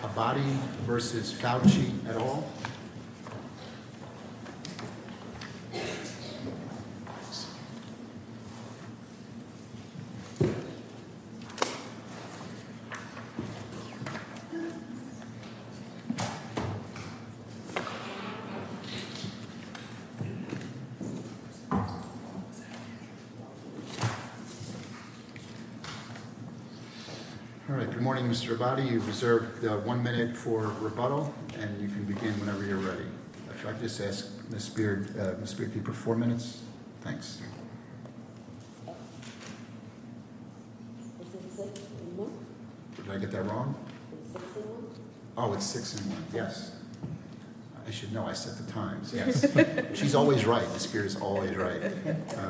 Mr. Abadi v. Fauci et al. Mr. Abadi, you have one minute for rebuttal, and you can begin whenever you're ready. If I could just ask Ms. Speared to give her four minutes. Thanks. Did I get that wrong? Oh, it's six and one, yes. I should know. I set the times. She's always right. The Spirit is always right.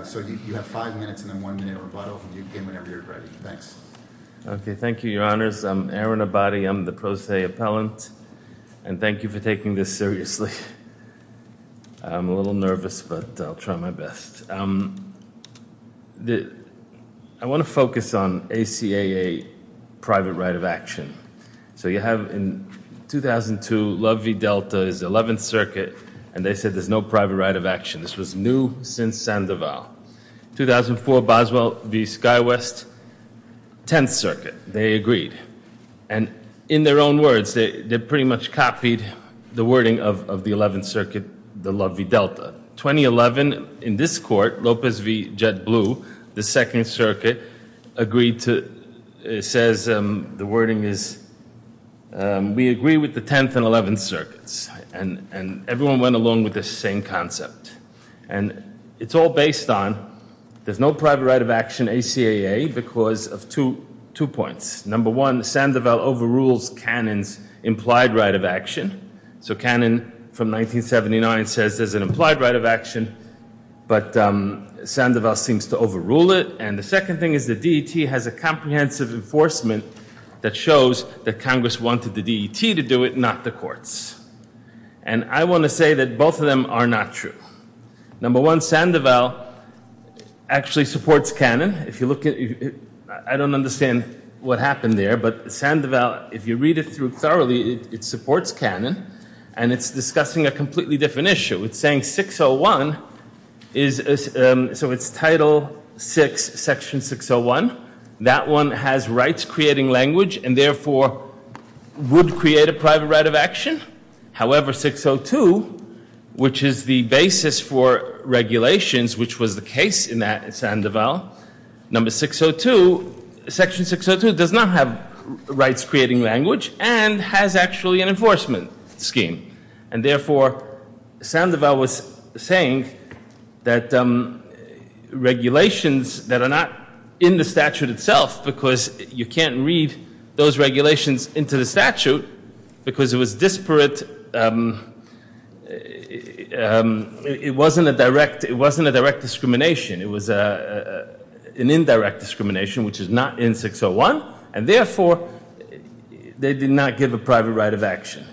So you have five minutes and then one minute rebuttal, and you can begin whenever you're ready. Thanks. Okay, thank you, Your Honors. I'm Aaron Abadi. I'm the pro se appellant. And thank you for taking this seriously. I'm a little nervous, but I'll try my best. I want to focus on ACAA private right of action. So you have in 2002, Love v. Delta is the 11th Circuit, and they said there's no private right of action. This was new since Sandoval. 2004, Boswell v. SkyWest, 10th Circuit. They agreed. And in their own words, they pretty much copied the wording of the 11th Circuit, the Love v. Delta. 2011, in this court, Lopez v. Jet Blue, the 2nd Circuit, agreed to, says the wording is, we agree with the 10th and 11th Circuits. And everyone went along with the same concept. And it's all based on there's no private right of action ACAA because of two points. Number one, Sandoval overrules Cannon's implied right of action. So Cannon, from 1979, says there's an implied right of action, but Sandoval seems to overrule it. And the second thing is the DET has a comprehensive enforcement that shows that Congress wanted the DET to do it, not the courts. And I want to say that both of them are not true. Number one, Sandoval actually supports Cannon. I don't understand what happened there, but Sandoval, if you read it through thoroughly, it supports Cannon. And it's discussing a completely different issue. It's saying 601, so it's Title VI, Section 601. That one has rights creating language and therefore would create a private right of action. However, 602, which is the basis for regulations, which was the case in that Sandoval. Number 602, Section 602 does not have rights creating language and has actually an enforcement scheme. And therefore, Sandoval was saying that regulations that are not in the statute itself, because you can't read those regulations into the statute because it was disparate. It wasn't a direct discrimination. It was an indirect discrimination, which is not in 601. And therefore, they did not give a private right of action.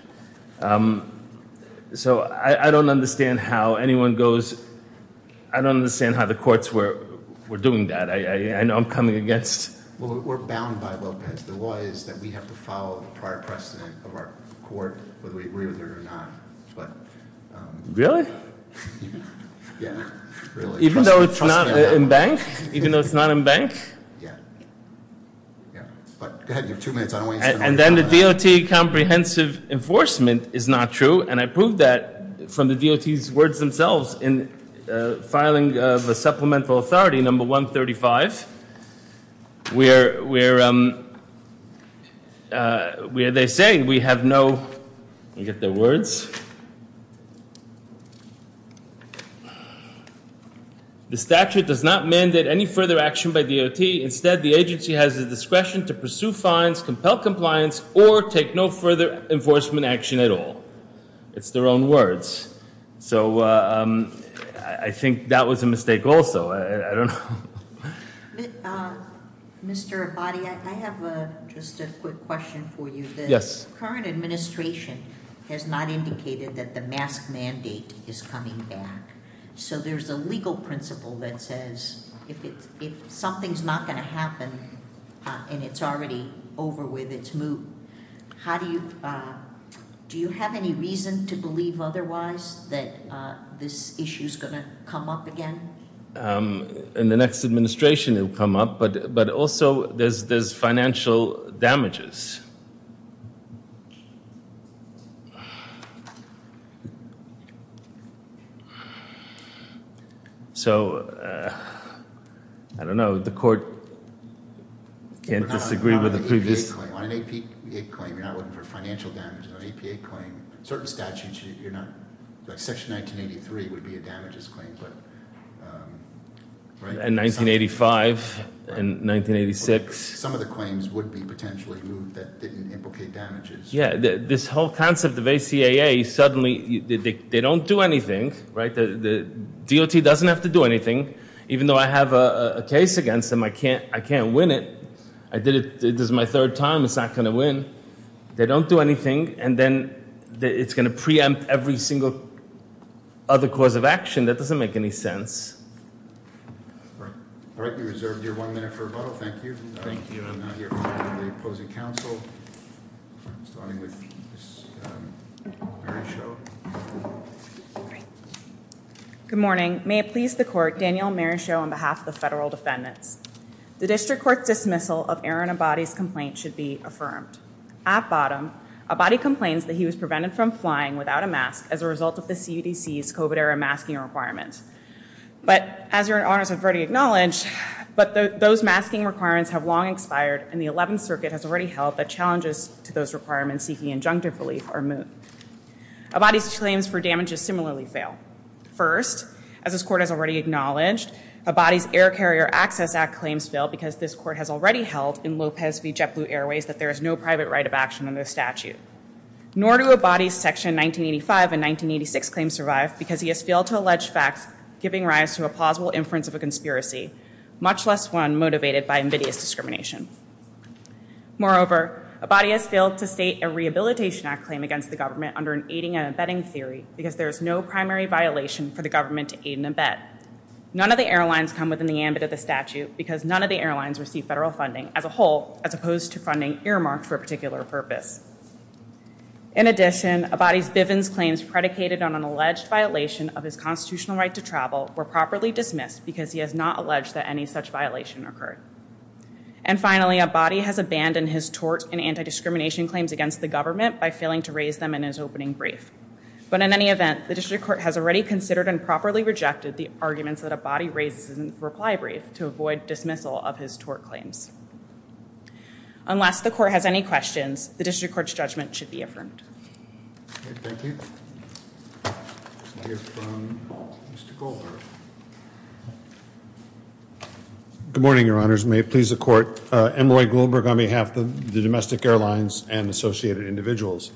So I don't understand how anyone goes. I don't understand how the courts were doing that. I know I'm coming against. Well, we're bound by Lopez. The law is that we have to follow the prior precedent of our court, whether we agree with it or not. Really? Yeah, really. Even though it's not in bank? Even though it's not in bank? Yeah. Go ahead. You have two minutes. And then the DOT comprehensive enforcement is not true. And I proved that from the DOT's words themselves in filing of a supplemental authority, number 135, where they say we have no, let me get their words. The statute does not mandate any further action by DOT. Instead, the agency has the discretion to pursue fines, compel compliance, or take no further enforcement action at all. It's their own words. So I think that was a mistake also. I don't know. Mr. Abadi, I have just a quick question for you. Yes. The current administration has not indicated that the mask mandate is coming back. So there's a legal principle that says if something's not going to happen and it's already over with, it's moot, do you have any reason to believe otherwise that this issue is going to come up again? In the next administration it will come up. But also, there's financial damages. So I don't know. The court can't disagree with the previous. On an APA claim, you're not looking for financial damages. On an APA claim, certain statutes, you're not. Section 1983 would be a damages claim. And 1985 and 1986. Some of the claims would be potentially moot that didn't implicate damages. Yeah, this whole concept of ACAA, suddenly they don't do anything. The DOT doesn't have to do anything. Even though I have a case against them, I can't win it. This is my third time. It's not going to win. They don't do anything. And then it's going to preempt every single other cause of action. That doesn't make any sense. All right. We reserved your one minute for a vote. Thank you. Thank you. I'm now here for the opposing counsel. Starting with Mary Scho. Good morning. May it please the court, Daniel Mary Scho on behalf of the federal defendants. The district court's dismissal of Aaron Abadi's complaint should be affirmed. At bottom, Abadi complains that he was prevented from flying without a mask as a result of the CDC's COVID-era masking requirements. But as your honors have already acknowledged, but those masking requirements have long expired, and the 11th Circuit has already held that challenges to those requirements seeking injunctive relief are moot. Abadi's claims for damages similarly fail. First, as this court has already acknowledged, Abadi's Air Carrier Access Act claims fail because this court has already held in Lopez v. JetBlue Airways that there is no private right of action under the statute. Nor do Abadi's Section 1985 and 1986 claims survive because he has failed to allege facts giving rise to a plausible inference of a conspiracy, much less one motivated by invidious discrimination. Moreover, Abadi has failed to state a Rehabilitation Act claim against the government under an aiding and abetting theory because there is no primary violation for the government to aid and abet. None of the airlines come within the ambit of the statute because none of the airlines receive federal funding as a whole as opposed to funding earmarked for a particular purpose. In addition, Abadi's Bivens claims predicated on an alleged violation of his constitutional right to travel were properly dismissed because he has not alleged that any such violation occurred. And finally, Abadi has abandoned his tort and anti-discrimination claims against the government by failing to raise them in his opening brief. But in any event, the district court has already considered and properly rejected the arguments that Abadi raises in the reply brief to avoid dismissal of his tort claims. Unless the court has any questions, the district court's judgment should be affirmed. Okay, thank you. Let's hear from Mr. Goldberg. Good morning, Your Honors. May it please the court. M. Roy Goldberg on behalf of the domestic airlines and associated individuals.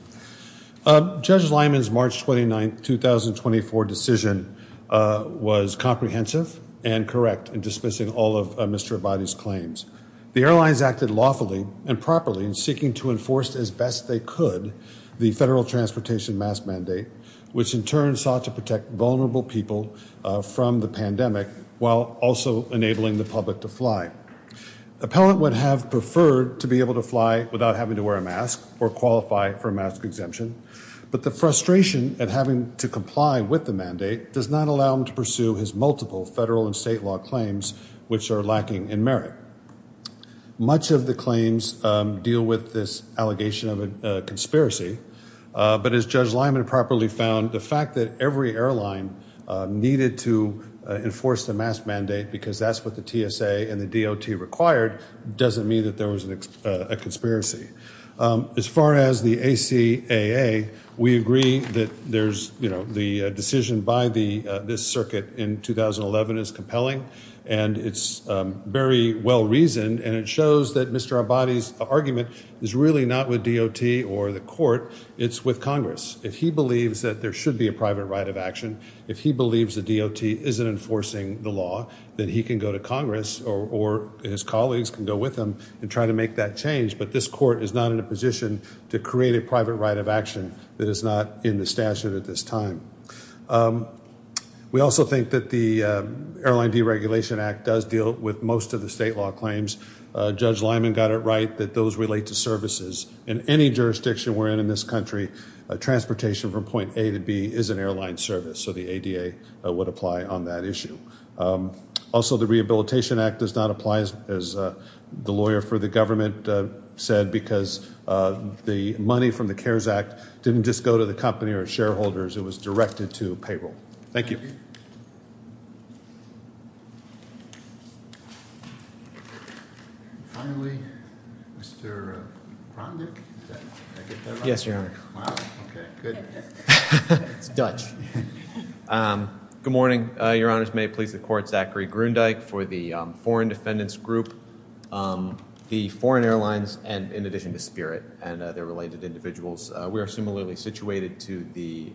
Judge Lyman's March 29, 2024 decision was comprehensive and correct in dismissing all of Mr. Abadi's claims. The airlines acted lawfully and properly in seeking to enforce as best they could the federal transportation mask mandate, which in turn sought to protect vulnerable people from the pandemic while also enabling the public to fly. Appellant would have preferred to be able to fly without having to wear a mask or qualify for a mask exemption. But the frustration at having to comply with the mandate does not allow him to pursue his multiple federal and state law claims, which are lacking in merit. Much of the claims deal with this allegation of a conspiracy. But as Judge Lyman properly found, the fact that every airline needed to enforce the mask mandate because that's what the TSA and the DOT required doesn't mean that there was a conspiracy. As far as the ACAA, we agree that the decision by this circuit in 2011 is compelling and it's very well reasoned and it shows that Mr. Abadi's argument is really not with DOT or the court. It's with Congress. If he believes that there should be a private right of action, if he believes the DOT isn't enforcing the law, then he can go to Congress or his colleagues can go with him and try to make that change. But this court is not in a position to create a private right of action that is not in the statute at this time. We also think that the Airline Deregulation Act does deal with most of the state law claims. Judge Lyman got it right that those relate to services. In any jurisdiction we're in in this country, transportation from point A to B is an airline service, so the ADA would apply on that issue. Also, the Rehabilitation Act does not apply. As the lawyer for the government said, because the money from the CARES Act didn't just go to the company or shareholders. It was directed to payroll. Thank you. Finally, Mr. Cromdick? Did I get that right? Yes, Your Honor. Wow, okay, good. It's Dutch. Good morning. Your Honors, may it please the Court, for the Foreign Defendants Group, the foreign airlines, and in addition to Spirit and their related individuals. We are similarly situated to the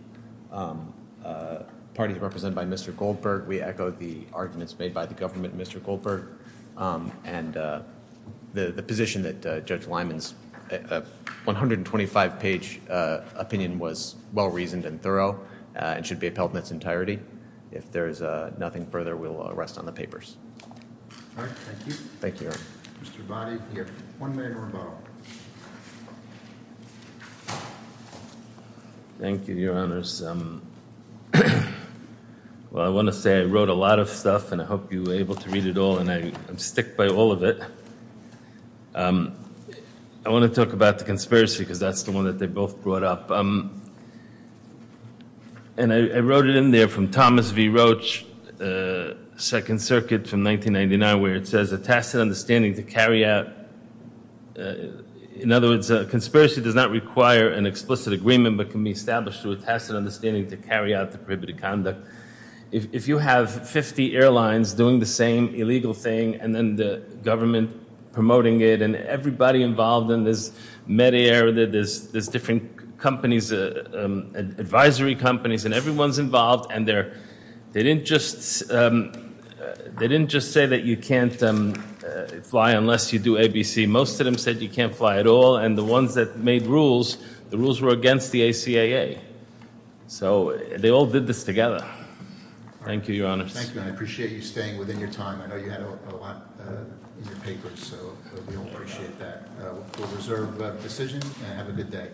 parties represented by Mr. Goldberg. We echo the arguments made by the government and Mr. Goldberg. And the position that Judge Lyman's 125-page opinion was well-reasoned and thorough and should be upheld in its entirety. If there is nothing further, we'll rest on the papers. All right, thank you. Thank you, Your Honor. Mr. Boddy, you have one minute more to go. Thank you, Your Honors. Well, I want to say I wrote a lot of stuff, and I hope you were able to read it all, and I'm sticked by all of it. I want to talk about the conspiracy, because that's the one that they both brought up. And I wrote it in there from Thomas V. Roach, Second Circuit from 1999, where it says, A tacit understanding to carry out, in other words, a conspiracy does not require an explicit agreement, but can be established through a tacit understanding to carry out the prohibited conduct. If you have 50 airlines doing the same illegal thing and then the government promoting it and everybody involved, and there's Medair, there's different companies, advisory companies, and everyone's involved, and they didn't just say that you can't fly unless you do ABC. Most of them said you can't fly at all, and the ones that made rules, the rules were against the ACAA. So they all did this together. Thank you, Your Honors. Thank you, and I appreciate you staying within your time. I know you had a lot in your papers, so we all appreciate that. We'll reserve the decision and have a good day.